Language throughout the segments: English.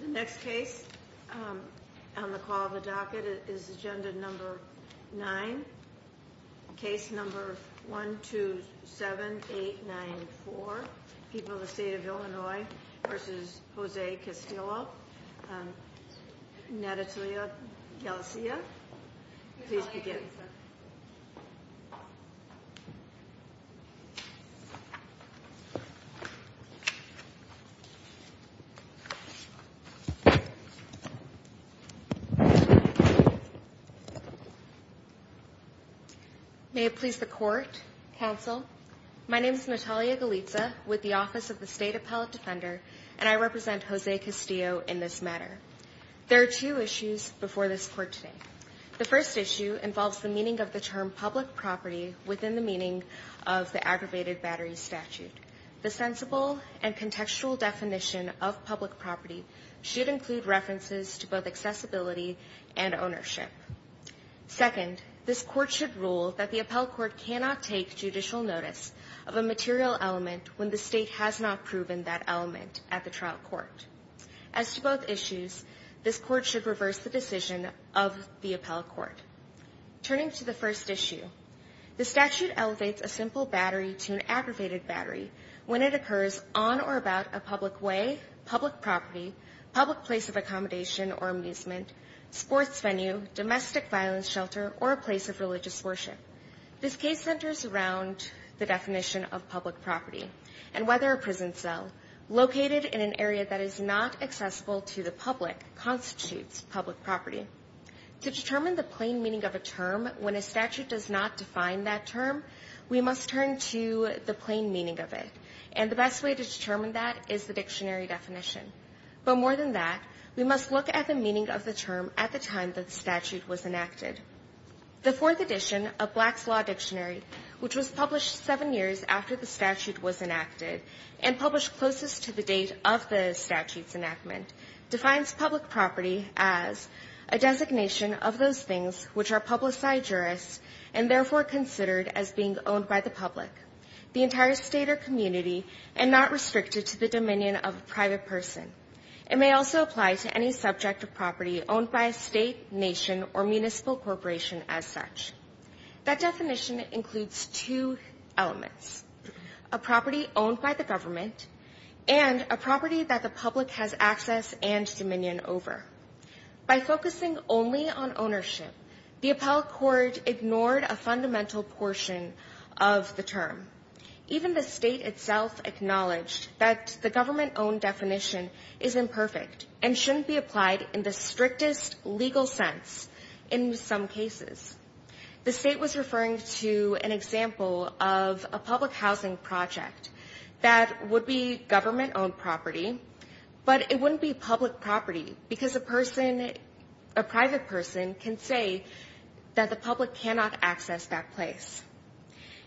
The next case on the call of the docket is agenda number nine. Case number one two seven eight nine four. People of the state of Illinois versus Jose Castillo Natatalia Galicia. Please begin. Natalia Galicia May it please the court, counsel. My name is Natalia Galicia with the office of the state appellate defender and I represent Jose Castillo in this matter. There are two issues before this court today. The first issue involves the meaning of the term public property within the meaning of the aggravated battery statute. The sensible and contextual definition of public property should include references to both accessibility and ownership. Second, this court should rule that the appellate court cannot take judicial notice of a material element when the state has not proven that element at the trial court. As to both issues, this court should reverse the decision of the appellate court. Turning to the first issue, the statute elevates a simple battery to an aggravated battery when it occurs on or about a public way, public property, public place of accommodation or amusement, sports venue, domestic violence shelter, or a place of religious worship. This case centers around the definition of public property and whether a prison cell located in an area that is not accessible to the public constitutes public property. To determine the plain meaning of a term when a statute does not define that to the plain meaning of it. And the best way to determine that is the dictionary definition. But more than that, we must look at the meaning of the term at the time that statute was enacted. The fourth edition of Black's Law Dictionary, which was published seven years after the statute was enacted and published closest to the date of the statute's enactment, defines public property as a designation of those things which are publicized by jurists and therefore considered as being owned by the public, the entire state or community, and not restricted to the dominion of a private person. It may also apply to any subject of property owned by a state, nation, or municipal corporation as such. That definition includes two elements, a property owned by the government and a property that the public has access and dominion over. By focusing only on ownership, the appellate court ignored a fundamental portion of the term. Even the state itself acknowledged that the government-owned definition is imperfect and shouldn't be applied in the strictest legal sense in some cases. The state was referring to an example of a public housing project that would be government-owned property, but it wouldn't be public property because a person, a private person, can say that the public cannot access that place.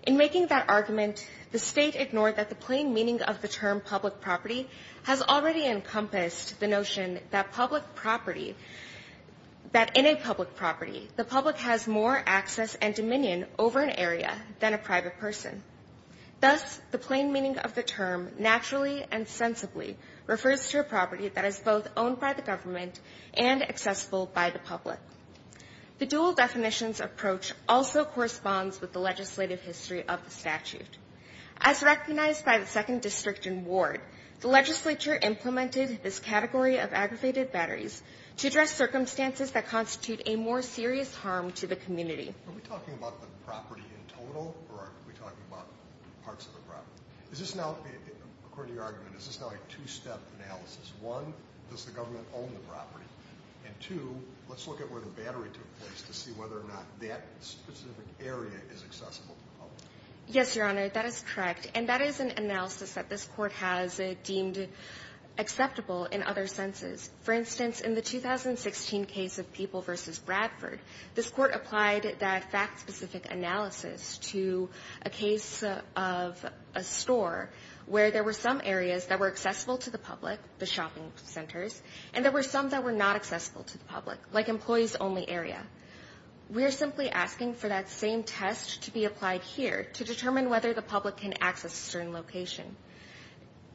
In making that argument, the state ignored that the plain meaning of the term public property has already encompassed the notion that public property, that in a public property, the public has more access and dominion over an area than a private person. Thus, the plain meaning of the term naturally and sensibly refers to a property that is both owned by the government and accessible by the public. The dual definitions approach also corresponds with the legislative history of the statute. As recognized by the second district and ward, the legislature implemented this category of aggravated batteries to address circumstances that constitute a more serious harm to the community. Are we talking about the property in total or are we talking about parts of the property? Is this now, according to your argument, is this now a two-step analysis? One, does the government own the property? And two, let's look at where the battery took place to see whether or not that specific area is accessible to the public. Yes, Your Honor, that is correct. And that is an analysis that this court has deemed acceptable in other senses. For instance, in the 2016 case of People v. Bradford, this court applied that fact-specific analysis to a case of a store where there were some areas that were accessible to the public, the shopping centers, and there were some that were not accessible to the public, like employees-only area. We are simply asking for that same test to be applied here to determine whether the public can access a certain location.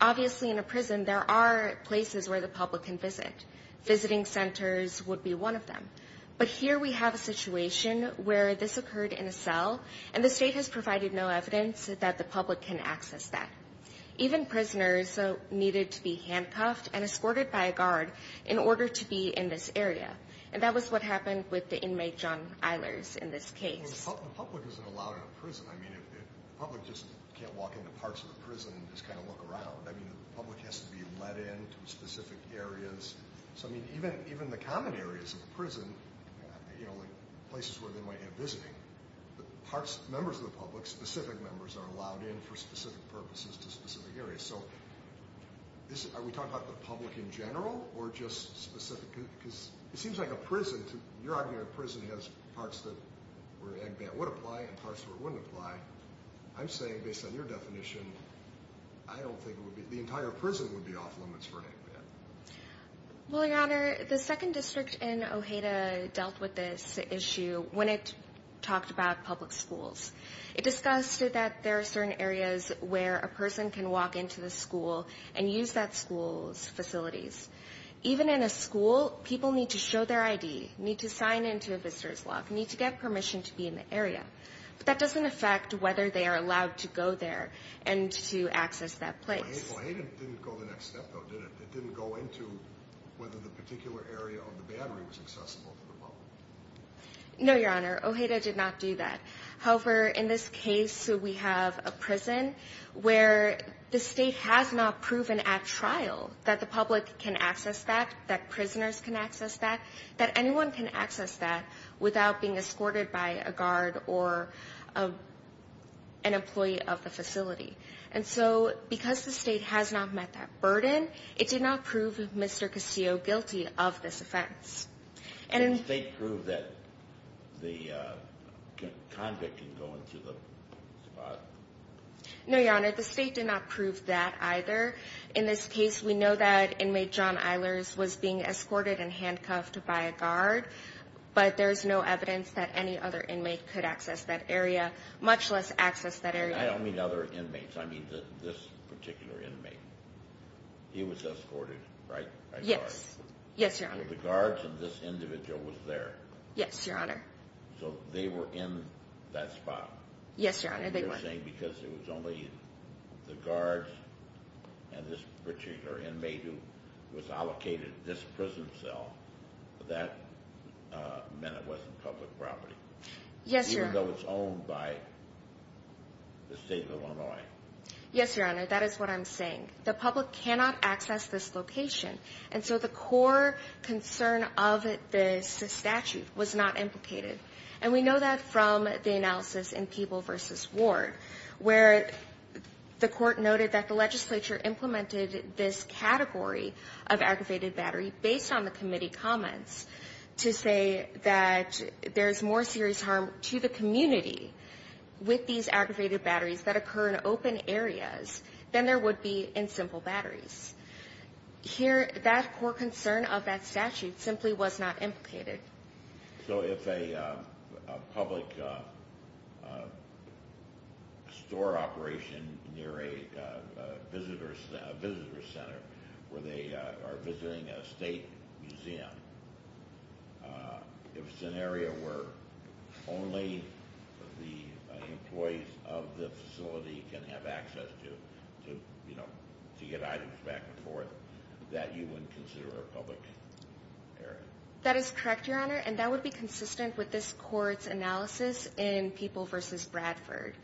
Obviously, in a prison, there are places where the public can visit. Visiting centers would be one of them. But here we have a situation where this occurred in a cell and the state has provided no evidence that the public can access that. Even prisoners needed to be handcuffed and escorted by a guard in order to be in this area. And that was what happened with the inmate, John Eilers, in this case. Well, the public isn't allowed in a prison. I mean, the public just can't walk into parts of a prison and just kind of look around. I mean, the public has to be let in to specific areas. So, I mean, even the common areas of a prison, you know, places where they might have visiting, members of the public, specific members, are allowed in for specific purposes to specific areas. So, are we talking about the public in general or just specific? Because it seems like a prison, you're arguing that a prison has parts where an egg ban would apply and parts where it wouldn't apply. I'm saying, based on your definition, I don't think it would be, the entire prison would be off limits for an egg ban. Well, your honor, the second district in Ojeda dealt with this issue when it talked about public schools. It discussed that there are certain areas where a person can walk into the school and use that school's facilities. Even in a school, people need to show their ID, need to sign into a visitor's lock, need to get permission to be in the area. But that doesn't affect whether they are allowed to go there and to access that place. But Ojeda didn't go the next step, though, did it? It didn't go into whether the particular area of the battery was accessible to the public. No, your honor. Ojeda did not do that. However, in this case, we have a prison where the state has not proven at trial that the public can access that, that prisoners can access that, that anyone can access that without being escorted by a guard or an employee of the facility. And so, because the state has not met that burden, it did not prove Mr. Castillo guilty of this offense. Did the state prove that the convict can go into the spot? No, your honor. The state did not prove that either. In this case, we know that inmate John Eilers was being escorted and handcuffed by a guard, but there's no evidence that any other inmate could access that area, much less access that area. I don't mean other inmates. I mean this particular inmate. He was escorted, right? Yes. Yes, your honor. So the guards and this individual was there? Yes, your honor. So they were in that spot? Yes, your honor. And you're saying because it was only the guards and this particular inmate who was allocated this prison cell, that meant it wasn't public property? Yes, your honor. Even though it's owned by the state of Illinois? Yes, your honor. That is what I'm saying. The public cannot access this location, and so the core concern of the statute was not implicated. And we know that from the analysis in Peeble v. Ward, where the court noted that the legislature implemented this category of aggravated battery based on the committee comments to say that there's more serious harm to the community with these aggravated batteries that occur in open areas than there would be in simple batteries. Here, that core concern of that statute simply was not implicated. So if a public store operation near a visitor center where they are visiting a state museum, if it's an area where only the employees of the facility can have access to, you know, to get items back and forth, that you wouldn't consider a public area? That is correct, your honor, and that would be consistent with this court's analysis in Peeble v. Bradford.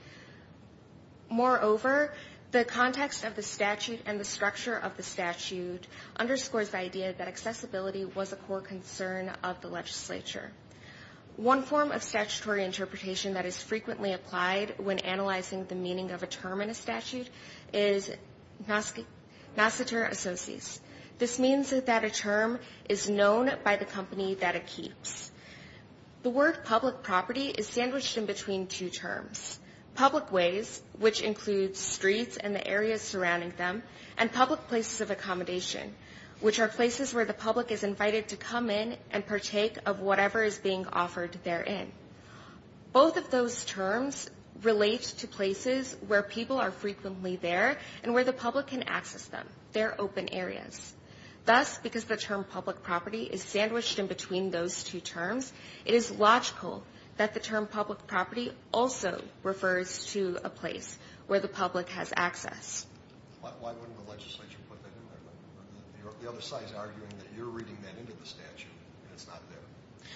Moreover, the context of the statute and the structure of the statute underscores the idea that accessibility was a core concern of the legislature. One form of statutory interpretation that is frequently applied when analyzing the meaning of a term in a statute is masseter associis. This means that a term is known by the company that it keeps. The word public property is sandwiched in between two terms. Public ways, which includes streets and the areas surrounding them, and public places of accommodation, which are places where the public is invited to come in and partake of whatever is being where people are frequently there and where the public can access them. They're open areas. Thus, because the term public property is sandwiched in between those two terms, it is logical that the term public property also refers to a place where the public has access. Why wouldn't the legislature put that in there? The other side is arguing that you're reading that into the statute and it's not there.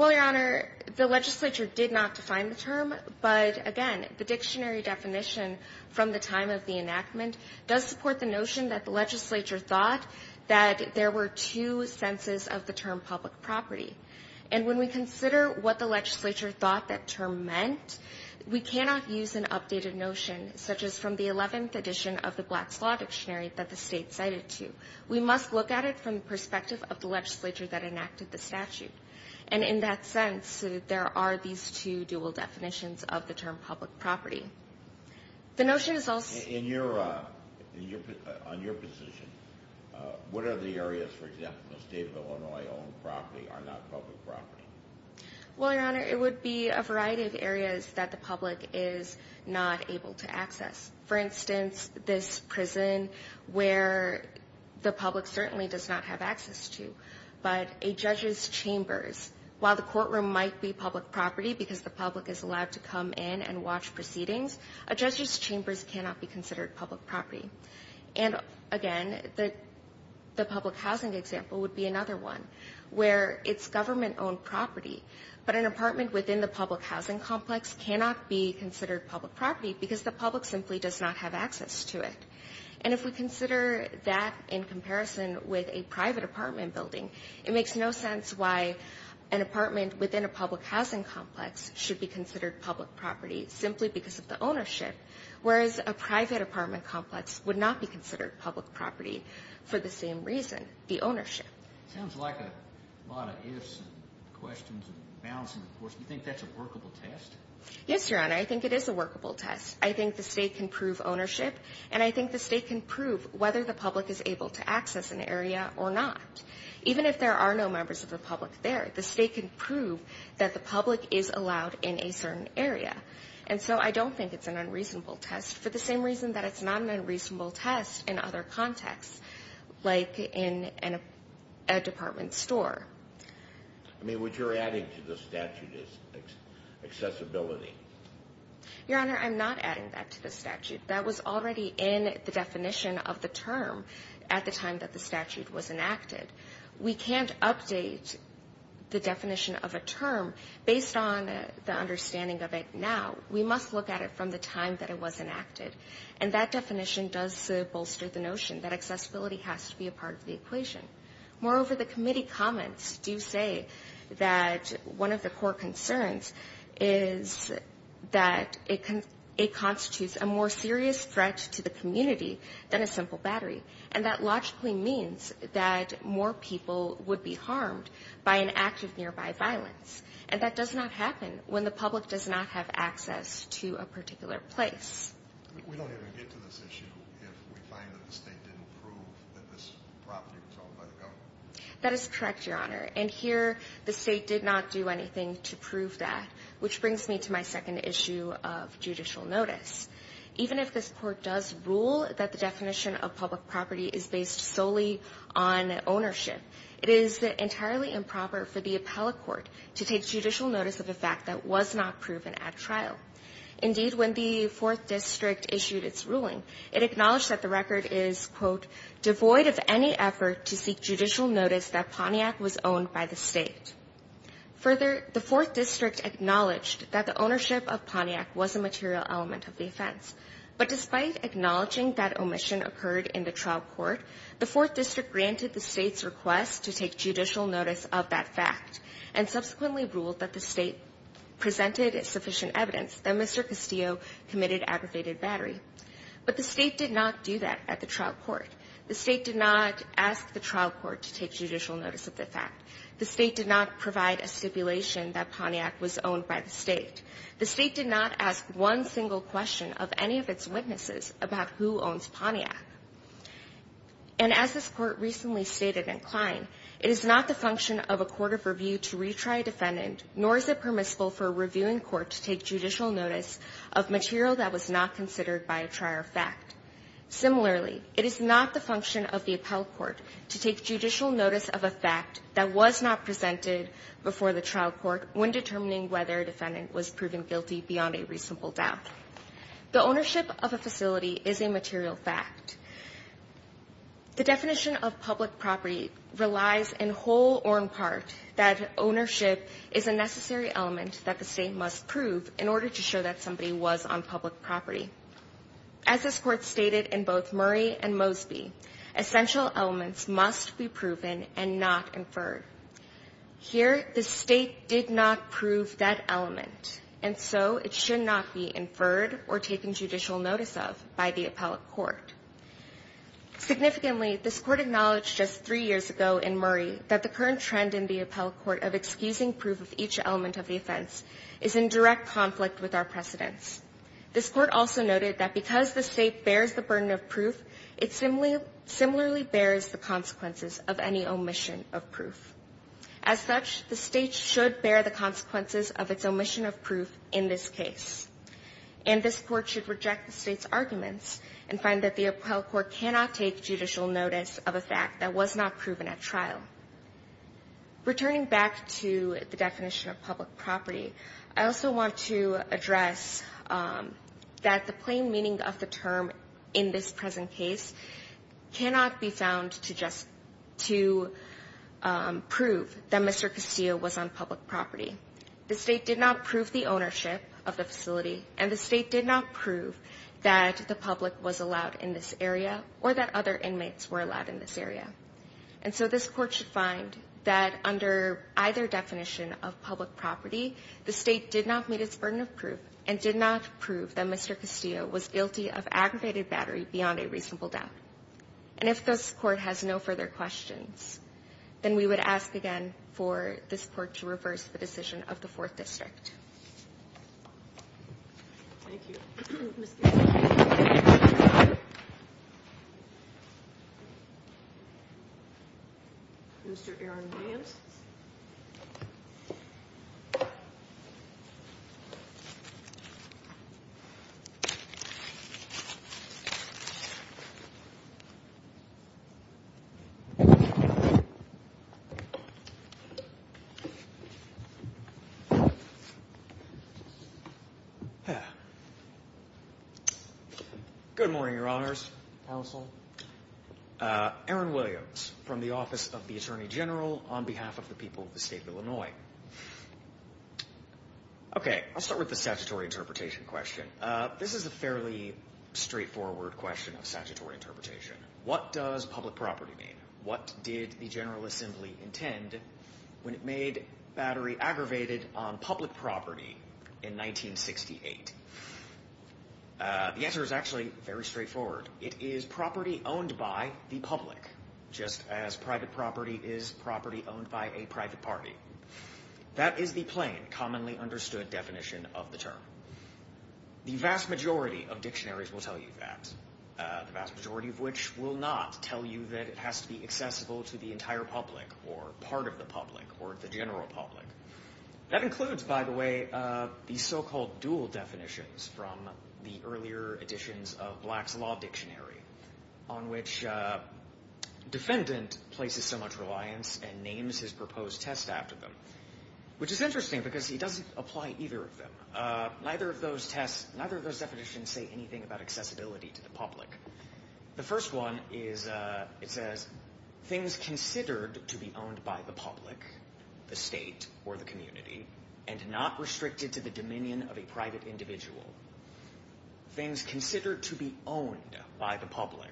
Well, Your Honor, the legislature did not define the term, but again, the dictionary definition from the time of the enactment does support the notion that the legislature thought that there were two senses of the term public property. And when we consider what the legislature thought that term meant, we cannot use an updated notion, such as from the 11th edition of the Black's Law Dictionary that the state cited to. We must look at it from the perspective of the legislature that enacted the statute. And in that sense, there are these two dual definitions of the term public property. The notion is also... In your, on your position, what are the areas, for example, the state of Illinois owned property are not public property? Well, Your Honor, it would be a variety of areas that the public is not able to access. For instance, this prison where the public certainly does not have access to, but a judge's chambers, while the courtroom might be public property because the public is allowed to come in and watch proceedings, a judge's chambers cannot be considered public property. And again, the public housing example would be another one where it's government owned property, but an apartment within the public housing complex cannot be considered public property because the public simply does not have access to it. And if we consider that in comparison with a private apartment building, it makes no sense why an apartment within a public housing complex should be considered public property simply because of the ownership, whereas a private apartment complex would not be considered public property for the same reason, the ownership. It sounds like a lot of ifs and questions and balancing, of course. Do you think that's a workable test? Yes, Your Honor, I think it is a workable test. I think the state can prove ownership, and I think the state can prove whether the public is able to access an area or not. Even if there are no members of the public there, the state can prove that the public is allowed in a certain area. And so I don't think it's an unreasonable test for the same reason that it's not an unreasonable test in other contexts, like in a department store. I mean, what you're adding to the statute is accessibility. Your Honor, I'm not adding that to the statute. That was already in the definition of the term at the time that the statute was enacted. We can't update the definition of a term based on the understanding of it now. We must look at it from the time that it was enacted, and that definition does bolster the notion that accessibility has to be a part of the equation. Moreover, the committee comments do say that one of the core concerns is that it constitutes a more serious threat to the community than a simple battery, and that logically means that more people would be harmed by an act of nearby violence. And that does not happen when the public does not have access to a particular place. We don't even get to this issue if we find that the state didn't prove that this property was owned by the government. That is correct, Your Honor. And here the state did not do anything to prove that, which brings me to my second issue of judicial notice. Even if this Court does rule that the definition of public property is based solely on ownership, it is entirely improper for the appellate court to take judicial notice of a fact that was not proven at trial. Indeed, when the 4th District issued its ruling, it acknowledged that the record is, quote, devoid of any effort to seek judicial notice that Pontiac was owned by the state. Further, the 4th District acknowledged that the ownership of Pontiac was a material element of the offense. But despite acknowledging that omission occurred in the trial court, the 4th District granted the state's request to take judicial notice of that fact, and subsequently ruled that the state presented sufficient evidence that Mr. Castillo committed aggravated battery. But the state did not do that at the trial court. The state did not ask the trial court to take judicial notice of the fact. The state did not provide a stipulation that Pontiac was owned by the state. The state did not ask one single question of any of its witnesses about who owns Pontiac. And as this Court recently stated in Klein, it is not the function of a court of review to retry a defendant, nor is it permissible for a reviewing court to take judicial notice of material that was not considered by a trial fact. Similarly, it is not the function of the appellate court to take judicial notice of a fact that was not presented before the trial court when determining whether a defendant was proven guilty beyond a reasonable doubt. The ownership of a facility is a material fact. The definition of public property relies in whole or in part that ownership is a necessary element that the state must prove in order to show that somebody was on public property. As this Court stated in both Murray and Mosby, essential elements must be proven and not inferred. Here, the state did not prove that element, and so it should not be inferred or taken judicial notice of by the appellate court. Significantly, this Court acknowledged just three years ago in Murray that the current trend in the appellate court of excusing proof of each element of the offense is in direct conflict with our precedents. This Court also noted that because the state bears the burden of proof, it similarly bears the consequences of any omission of proof. As such, the state should bear the consequences of its omission of proof in this case. And this Court should reject the state's arguments and find that the appellate court cannot take judicial notice of a fact that was not proven at trial. Returning back to the definition of public property, I also want to address that the plain meaning of the term in this present case cannot be found to just to prove that Mr. Castillo was on public property. The state did not prove the ownership of the facility, and the state did not prove that the public was allowed in this area or that other inmates were allowed in this area. And so this Court should find that under either definition of public property, the state did not meet its burden of proof and did not prove that Mr. Castillo was guilty of aggravated battery beyond a reasonable doubt. And if this Court has no further questions, then we would ask again for this Court to reverse the decision of the 4th District. Thank you. Mr. Castillo. Mr. Aaron Williams. Good morning, Your Honors, Counsel. Aaron Williams from the Office of the Attorney General on behalf of the people of the State of Illinois. Okay. I'll start with the statutory interpretation question. This is a fairly straightforward question of statutory interpretation. What does public property mean? What did the General Assembly intend when it made battery aggravated on public property in 1968? The answer is actually very straightforward. It is property owned by the public, just as private property is property owned by a private party. That is the plain, commonly understood definition of the term. The vast majority of dictionaries will tell you that, the vast majority of which will not tell you that it has to be accessible to the entire public or part of the public or the general public. That includes, by the way, the so-called dual definitions from the earlier editions of Black's Law Dictionary, on which a defendant places so much reliance and names his proposed test after them, which is interesting because he doesn't apply either of them. Neither of those tests, neither of those definitions say anything about accessibility to the public. The first one is, it says, things considered to be owned by the public, the state or the community, and not restricted to the dominion of a private individual. Things considered to be owned by the public,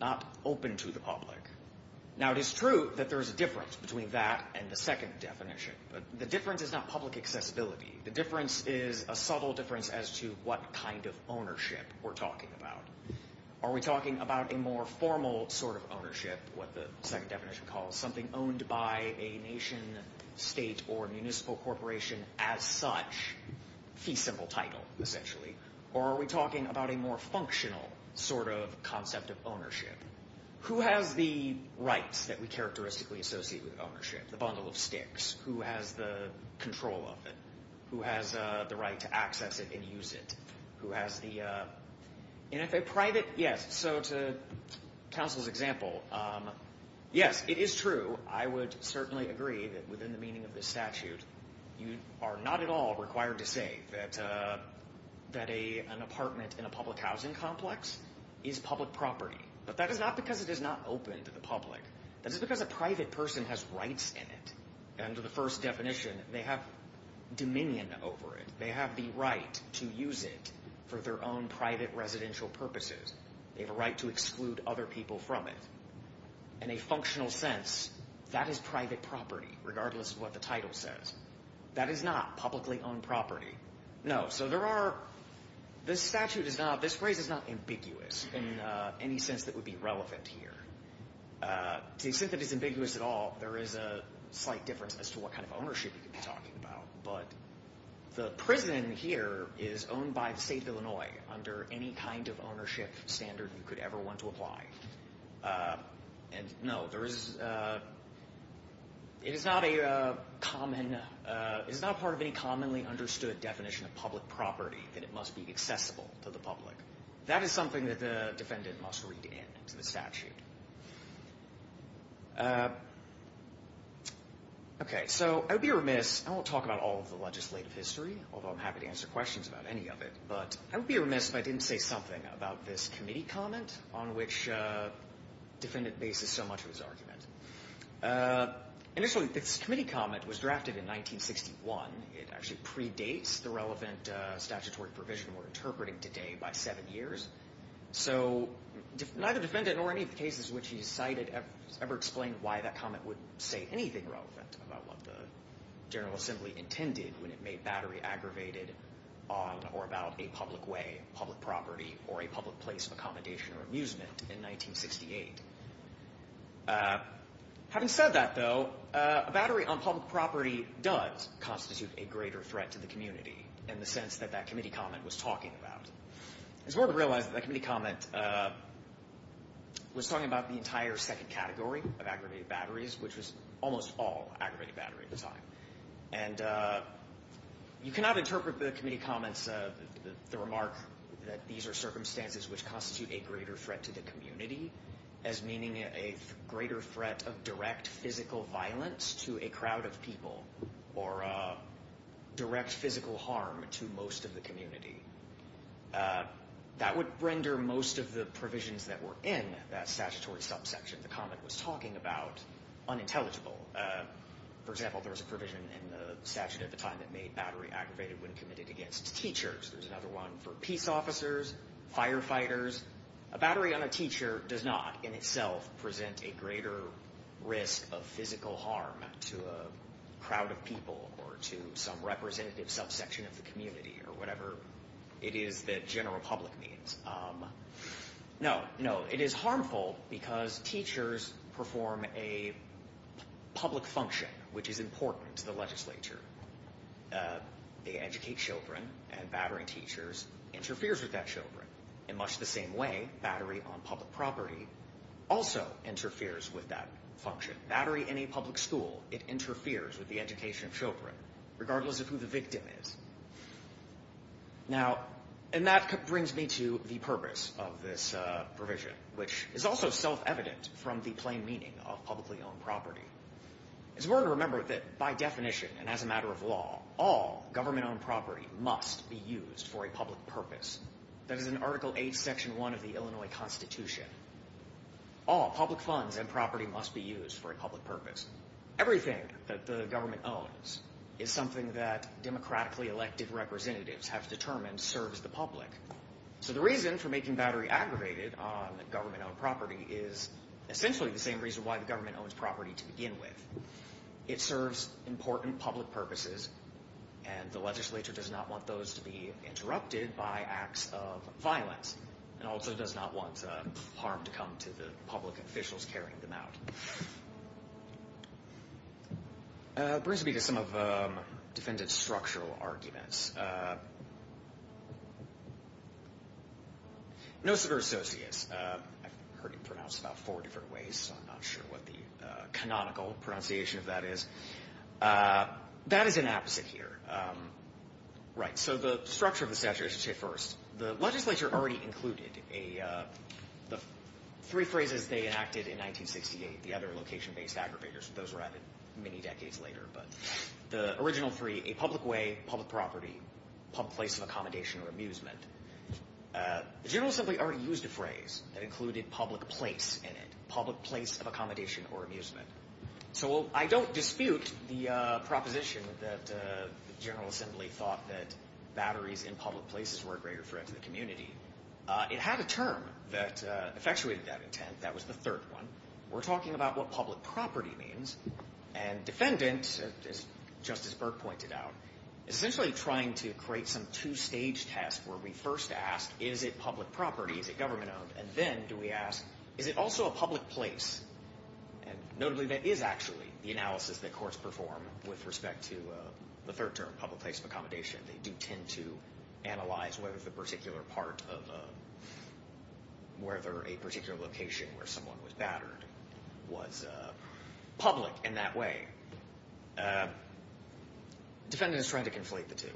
not open to the public. Now, it is true that there is a difference between that and the second definition, but the difference is not public accessibility. The difference is a subtle difference as to what kind of ownership we're talking about. Are we talking about a more formal sort of ownership, what the second definition calls something owned by a nation, state, or municipal corporation as such? Fee simple title, essentially. Or are we talking about a more functional sort of concept of ownership? Who has the rights that we characteristically associate with ownership? The bundle of sticks. Who has the control of it? Who has the right to access it and use it? Who has the, and if a private, yes, so to counsel's example, yes, it is true. I would certainly agree that within the meaning of this statute, you are not at all required to say that an apartment in a public housing complex is public property. But that is not because it is not open to the public. That is because a private person has rights in it. Under the first definition, they have dominion over it. They have the right to use it for their own private residential purposes. They have a right to exclude other people from it. In a functional sense, that is private property regardless of what the title says. That is not publicly owned property. No, so there are, this statute is not, this phrase is not ambiguous in any sense that would be relevant here. To the extent that it is ambiguous at all, there is a slight difference as to what kind of ownership you could be talking about. But the prison here is owned by the state of Illinois under any kind of ownership standard you could ever want to apply. And no, there is, it is not a common, it is not part of any commonly understood definition of public property that it must be accessible to the public. That is something that the defendant must read in to the statute. Okay, so I would be remiss, I won't talk about all of the legislative history, although I'm happy to answer questions about any of it. But I would be remiss if I didn't say something about this committee comment on which defendant bases so much of his argument. Initially, this committee comment was drafted in 1961. It actually predates the relevant statutory provision we're interpreting today by seven years. So neither defendant nor any of the cases which he cited ever explained why that comment would say anything relevant about what the General Assembly intended when it made battery aggravated on or about a public way, public property, or a public place of accommodation or amusement in 1968. Having said that, though, a battery on public property does constitute a greater threat to the community in the sense that that committee comment was talking about. It's important to realize that that committee comment was talking about the entire second category of aggravated batteries, which was almost all aggravated battery at the time. And you cannot interpret the committee comments, the remark that these are circumstances which constitute a greater threat to the community as meaning a greater threat of direct physical violence to a crowd of people or direct physical harm to most of the community. That would render most of the provisions that were in that statutory subsection the comment was talking about unintelligible. For example, there was a provision in the statute at the time that made battery aggravated when committed against teachers. There's another one for peace officers, firefighters. A battery on a teacher does not in itself present a greater risk of physical harm to a crowd of people or to some representative subsection of the community or whatever it is that general public means. No, no, it is harmful because teachers perform a public function which is important to the legislature. They educate children and battery teachers interferes with that children. In much the same way, battery on public property also interferes with that function. Battery in a public school, it interferes with the education of children, regardless of who the victim is. Now, and that brings me to the purpose of this provision, which is also self-evident from the plain meaning of publicly owned property. It's important to remember that by definition and as a matter of law, all government owned property must be used for a public purpose. That is in Article 8, Section 1 of the Illinois Constitution. All public funds and property must be used for a public purpose. Everything that the government owns is something that democratically elected representatives have determined serves the public. So the reason for making battery aggravated on government owned property is essentially the same reason why the government owns property to begin with. It serves important public purposes and the legislature does not want those to be interrupted by acts of violence and also does not want harm to come to the public officials carrying them out. Brings me to some of the defendant's structural arguments. No severe associates. I've heard it pronounced about four different ways, so I'm not sure what the canonical pronunciation of that is. That is an apposite here. Right, so the structure of the statute, I should say first, the legislature already included the three phrases they enacted in 1968, the other location-based aggravators. Those were added many decades later. The original three, a public way, public property, public place of accommodation or amusement. The General Assembly already used a phrase that included public place in it, public place of accommodation or amusement. So I don't dispute the proposition that the General Assembly thought that batteries in public places were a greater threat to the community. It had a term that effectuated that intent. That was the third one. We're talking about what public property means. And defendant, as Justice Burke pointed out, is essentially trying to create some two-stage test where we first ask, is it public property? Is it government owned? And then do we ask, is it also a public place? And notably, that is actually the analysis that courts perform with respect to the third term, public place of accommodation. They do tend to analyze whether the particular part of a, whether a particular location where someone was battered was public in that way. Defendant is trying to conflate the two.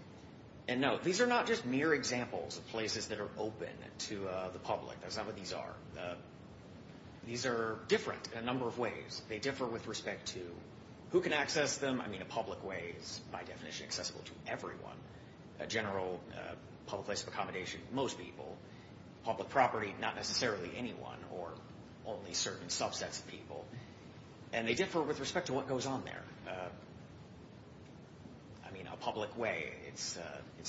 And no, these are not just mere examples of places that are open to the public. That's not what these are. These are different in a number of ways. They differ with respect to who can access them. I mean, a public way is, by definition, accessible to everyone. A general public place of accommodation, most people. Public property, not necessarily anyone or only certain subsets of people. And they differ with respect to what goes on there. I mean, a public way, it's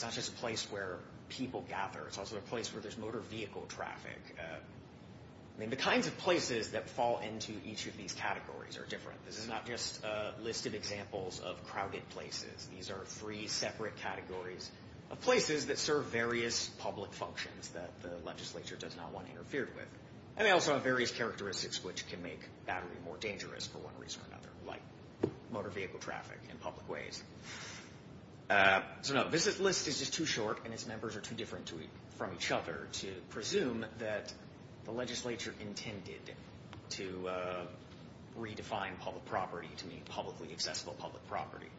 not just a place where people gather. It's also a place where there's motor vehicle traffic. I mean, the kinds of places that fall into each of these categories are different. This is not just a list of examples of crowded places. These are three separate categories of places that serve various public functions that the legislature does not want to interfere with. And they also have various characteristics which can make battery more dangerous, for one reason or another, like motor vehicle traffic in public ways. So no, this list is just too short, and its members are too different from each other to presume that the legislature intended to redefine public property to mean publicly accessible public property.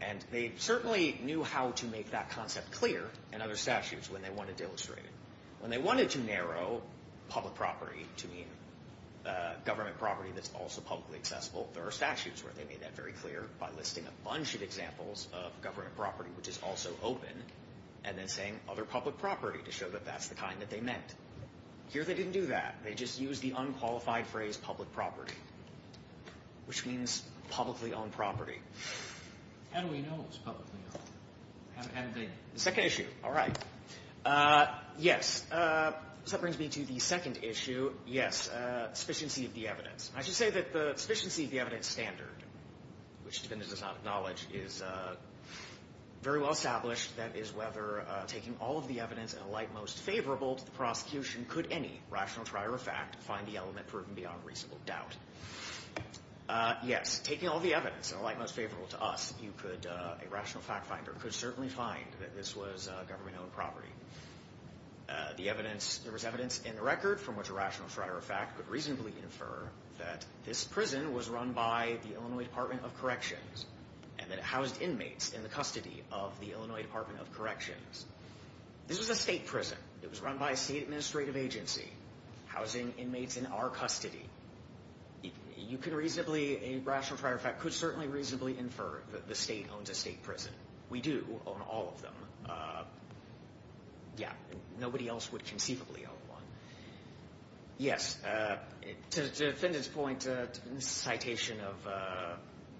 And they certainly knew how to make that concept clear in other statutes when they wanted to illustrate it. When they wanted to narrow public property to mean government property that's also publicly accessible, there are statutes where they made that very clear by listing a bunch of examples of government property which is also open and then saying other public property to show that that's the kind that they meant. Here they didn't do that. They just used the unqualified phrase public property, which means publicly owned property. How do we know it's publicly owned? The second issue. All right. Yes. So that brings me to the second issue. Yes, sufficiency of the evidence. I should say that the sufficiency of the evidence standard, which the defendant does not acknowledge, is very well established. That is whether taking all of the evidence in a light most favorable to the prosecution could any rational trier of fact find the element proven beyond reasonable doubt. Yes, taking all the evidence in a light most favorable to us, a rational fact finder could certainly find that this was government owned property. There was evidence in the record from which a rational trier of fact could reasonably infer that this prison was run by the Illinois Department of Corrections and that it housed inmates in the custody of the Illinois Department of Corrections. This was a state prison. It was run by a state administrative agency, housing inmates in our custody. You could reasonably, a rational trier of fact could certainly reasonably infer that the state owns a state prison. We do own all of them. Yeah. Nobody else would conceivably own one. Yes. To the defendant's point, the citation of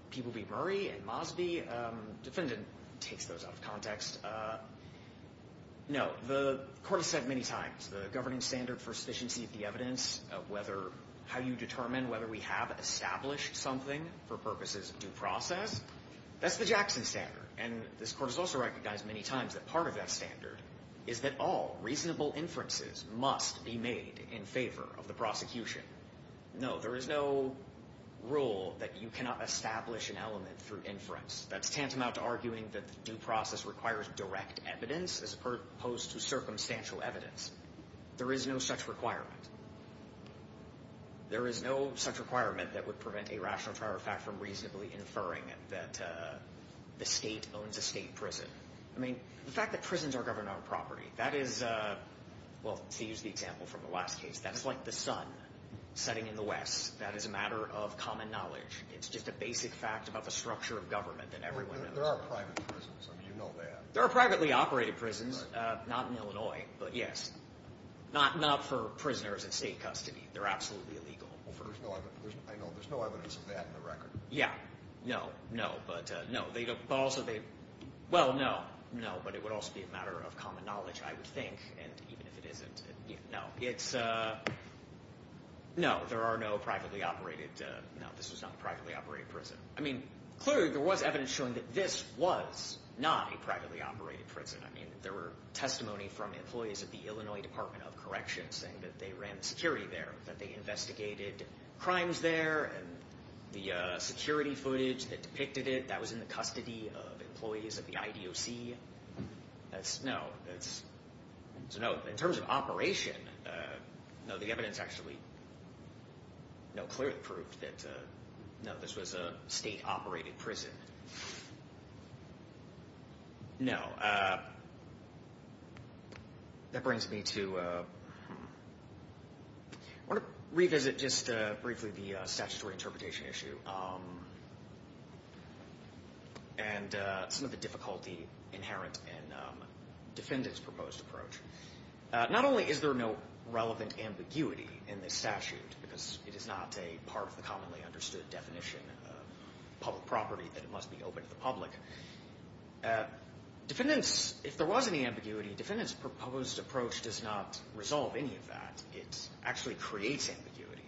People v. Murray and Mosby, the defendant takes those out of context. No. The court has said many times the governing standard for sufficiency of the evidence, how you determine whether we have established something for purposes of due process, that's the Jackson standard. And this court has also recognized many times that part of that standard is that all reasonable inferences must be made in favor of the prosecution. No, there is no rule that you cannot establish an element through inference. That's tantamount to arguing that due process requires direct evidence as opposed to circumstantial evidence. There is no such requirement. There is no such requirement that would prevent a rational trier of fact from reasonably inferring that the state owns a state prison. I mean, the fact that prisons are governed on property, that is, well, to use the example from the last case, that is like the sun setting in the west. That is a matter of common knowledge. It's just a basic fact about the structure of government that everyone knows. There are private prisons. I mean, you know that. There are privately operated prisons. Not in Illinois, but yes. Not for prisoners in state custody. They're absolutely illegal. I know. There's no evidence of that in the record. Yeah. No. No. But no. But also they – well, no. No. But it would also be a matter of common knowledge, I would think. And even if it isn't, no. It's – no. There are no privately operated – no, this was not a privately operated prison. I mean, clearly there was evidence showing that this was not a privately operated prison. I mean, there were testimony from employees at the Illinois Department of Corrections saying that they ran the security there, that they investigated crimes there, and the security footage that depicted it, that was in the custody of employees at the IDOC. That's – no. That's – no. In terms of operation, no. The evidence actually, no, clearly proved that, no, this was a state-operated prison. No. That brings me to – I want to revisit just briefly the statutory interpretation issue and some of the difficulty inherent in defendants' proposed approach. Not only is there no relevant ambiguity in this statute because it is not a part of the commonly understood definition of public property that it must be open to the public, defendants – if there was any ambiguity, defendants' proposed approach does not resolve any of that. It actually creates ambiguity,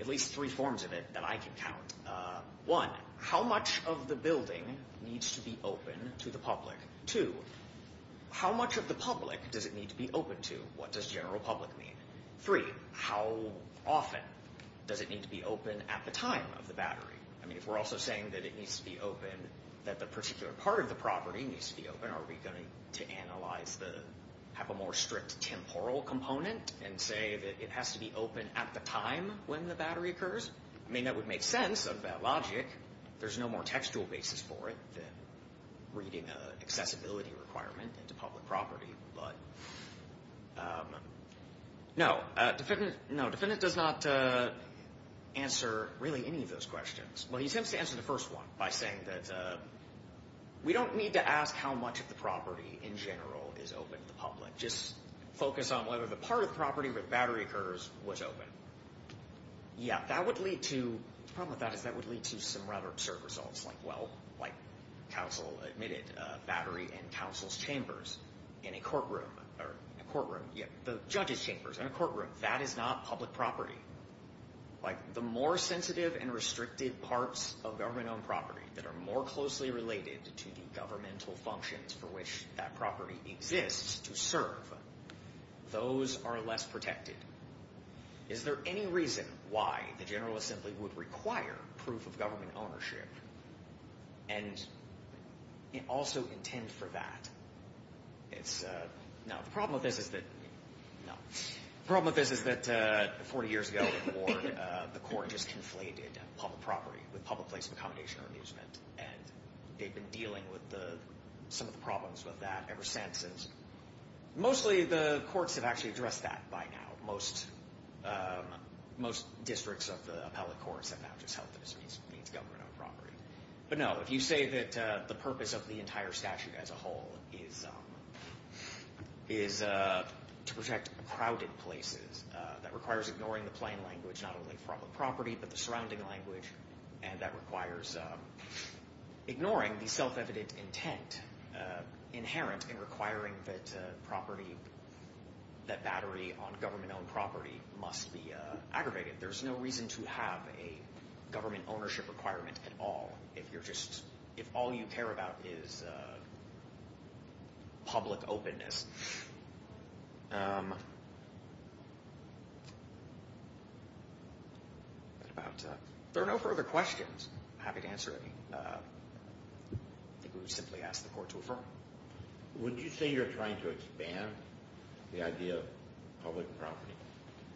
at least three forms of it that I can count. One, how much of the building needs to be open to the public? Two, how much of the public does it need to be open to? What does general public mean? Three, how often does it need to be open at the time of the battery? I mean, if we're also saying that it needs to be open, that the particular part of the property needs to be open, are we going to analyze the – have a more strict temporal component and say that it has to be open at the time when the battery occurs? I mean, that would make sense of that logic. There's no more textual basis for it than reading an accessibility requirement into public property. But no, defendant does not answer really any of those questions. Well, he attempts to answer the first one by saying that we don't need to ask how much of the property in general is open to the public. Just focus on whether the part of the property where the battery occurs was open. Yeah, that would lead to – the problem with that is that would lead to some rather absurd results like, well, like counsel admitted battery in counsel's chambers in a courtroom, or in a courtroom, yeah, the judge's chambers in a courtroom. That is not public property. Like, the more sensitive and restricted parts of government-owned property that are more closely related to the governmental functions for which that property exists to serve, those are less protected. Is there any reason why the General Assembly would require proof of government ownership and also intend for that? It's – no, the problem with this is that – no. The problem with this is that 40 years ago, the court just conflated public property with public place of accommodation or amusement, and they've been dealing with some of the problems with that ever since. Mostly the courts have actually addressed that by now. Most districts of the appellate courts have now just held that this means government-owned property. But, no, if you say that the purpose of the entire statute as a whole is to protect crowded places, that requires ignoring the plain language not only from the property but the surrounding language, and that requires ignoring the self-evident intent inherent in requiring that property – that battery on government-owned property must be aggravated. There's no reason to have a government ownership requirement at all if you're just – if all you care about is public openness. About – if there are no further questions, I'm happy to answer any. I think we would simply ask the court to affirm. Would you say you're trying to expand the idea of public property?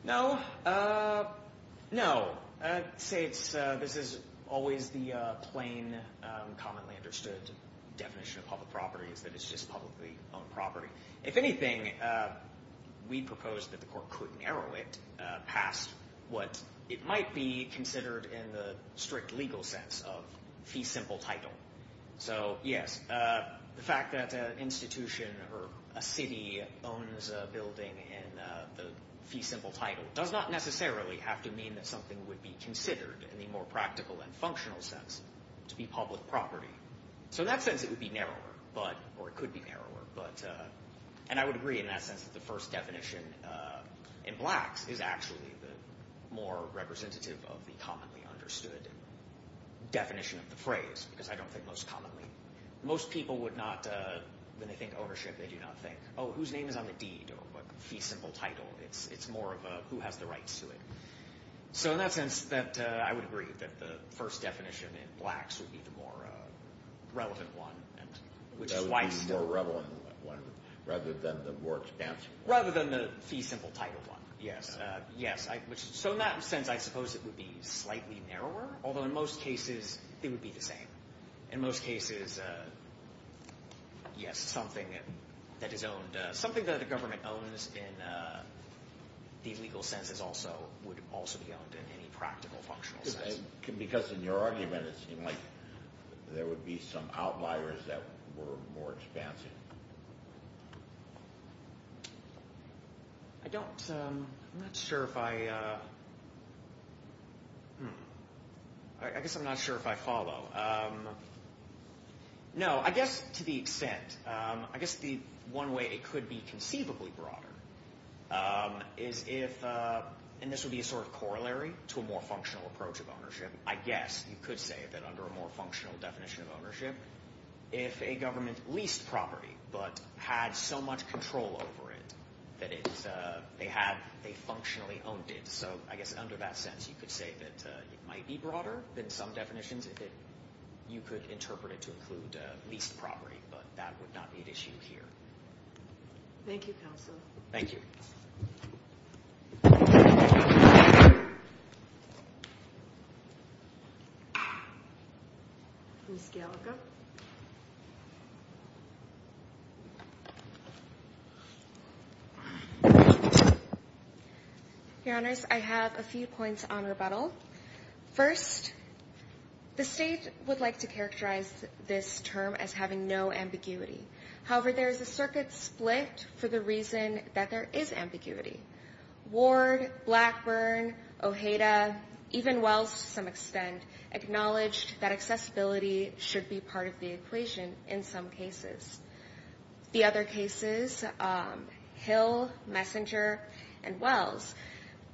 No. No. I'd say it's – this is always the plain, commonly understood definition of public property is that it's just publicly owned property. If anything, we propose that the court could narrow it past what it might be considered in the strict legal sense of fee simple title. So, yes, the fact that an institution or a city owns a building in the fee simple title does not necessarily have to mean that something would be considered in the more practical and functional sense to be public property. So in that sense, it would be narrower, but – or it could be narrower, but – and I would agree in that sense that the first definition in Blacks is actually the more representative of the commonly understood definition of the phrase because I don't think most commonly – most people would not – when they think ownership, they do not think, oh, whose name is on the deed or what fee simple title. It's more of a who has the rights to it. So in that sense, I would agree that the first definition in Blacks would be the more relevant one, which is why – That would be the more relevant one rather than the more expansive one. Rather than the fee simple title one, yes. So in that sense, I suppose it would be slightly narrower, although in most cases it would be the same. In most cases, yes, something that is owned – the legal sense is also – would also be owned in any practical, functional sense. Because in your argument, it seemed like there would be some outliers that were more expansive. I don't – I'm not sure if I – I guess I'm not sure if I follow. No, I guess to the extent – I guess the one way it could be conceivably broader is if – and this would be a sort of corollary to a more functional approach of ownership. I guess you could say that under a more functional definition of ownership, if a government leased property but had so much control over it that they have – they functionally owned it. So I guess under that sense, you could say that it might be broader than some definitions if you could interpret it to include leased property, but that would not be an issue here. Thank you, counsel. Thank you. Ms. Gallagher. Your Honors, I have a few points on rebuttal. First, the state would like to characterize this term as having no ambiguity. However, there is a circuit split for the reason that there is ambiguity. Ward, Blackburn, Ojeda, even Wells to some extent, acknowledged that accessibility should be part of the equation in some cases. The other cases, Hill, Messenger, and Wells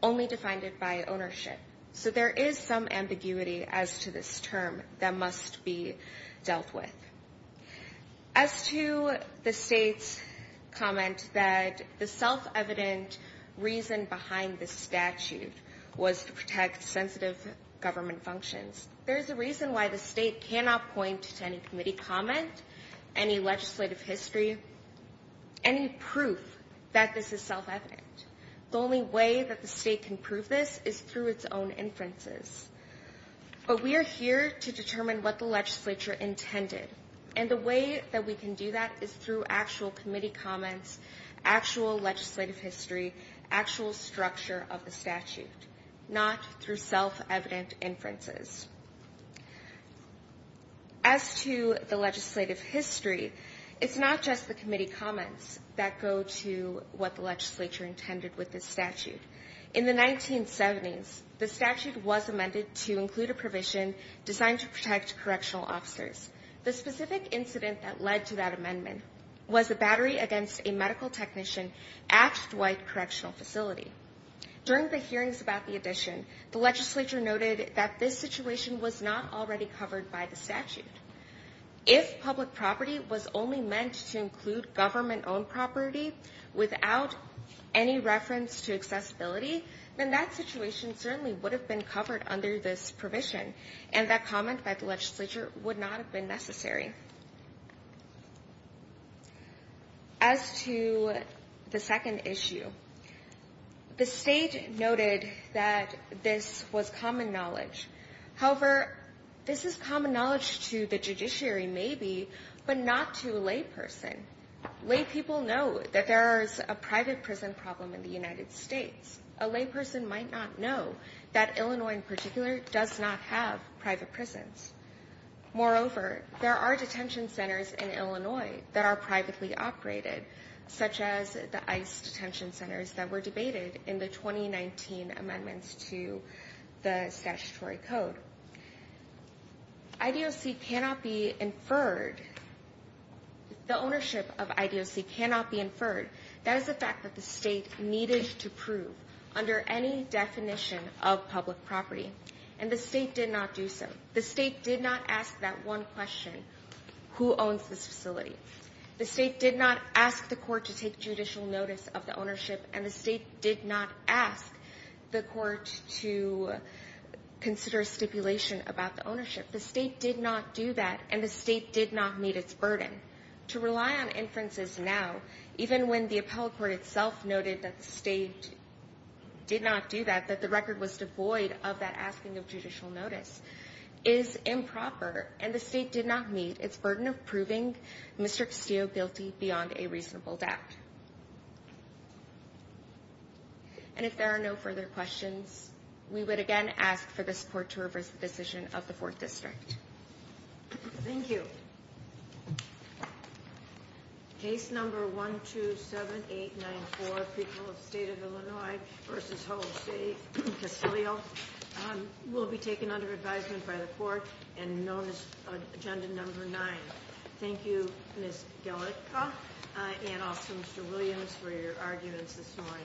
only defined it by ownership. So there is some ambiguity as to this term that must be dealt with. As to the state's comment that the self-evident reason behind this statute was to protect sensitive government functions, there is a reason why the state cannot point to any committee comment, any legislative history, any proof that this is self-evident. The only way that the state can prove this is through its own inferences. But we are here to determine what the legislature intended, and the way that we can do that is through actual committee comments, actual legislative history, actual structure of the statute, not through self-evident inferences. As to the legislative history, it's not just the committee comments that go to what the legislature intended with this statute. In the 1970s, the statute was amended to include a provision designed to protect correctional officers. The specific incident that led to that amendment was a battery against a medical technician at Dwight Correctional Facility. During the hearings about the addition, the legislature noted that this situation was not already covered by the statute. If public property was only meant to include government-owned property without any reference to accessibility, then that situation certainly would have been covered under this provision, and that comment by the legislature would not have been necessary. As to the second issue, the state noted that this was common knowledge. However, this is common knowledge to the judiciary maybe, but not to a layperson. Laypeople know that there is a private prison problem in the United States. A layperson might not know that Illinois in particular does not have private prisons. Moreover, there are detention centers in Illinois that are privately operated, such as the ICE detention centers that were debated in the 2019 amendments to the statutory code. The ownership of IDOC cannot be inferred. That is a fact that the state needed to prove under any definition of public property, and the state did not do so. The state did not ask that one question, who owns this facility? The state did not ask the court to take judicial notice of the ownership, and the state did not ask the court to consider a stipulation about the ownership. The state did not do that, and the state did not meet its burden. To rely on inferences now, even when the appellate court itself noted that the state did not do that, that the record was devoid of that asking of judicial notice, is improper, and the state did not meet its burden of proving Mr. Castillo guilty beyond a reasonable doubt. And if there are no further questions, we would again ask for the support to reverse the decision of the 4th District. Thank you. Case number 127894, People of the State of Illinois v. Hull City, Castillo, will be taken under advisement by the court and known as agenda number 9. Thank you, Ms. Gellicka and also Mr. Williams for your arguments this morning.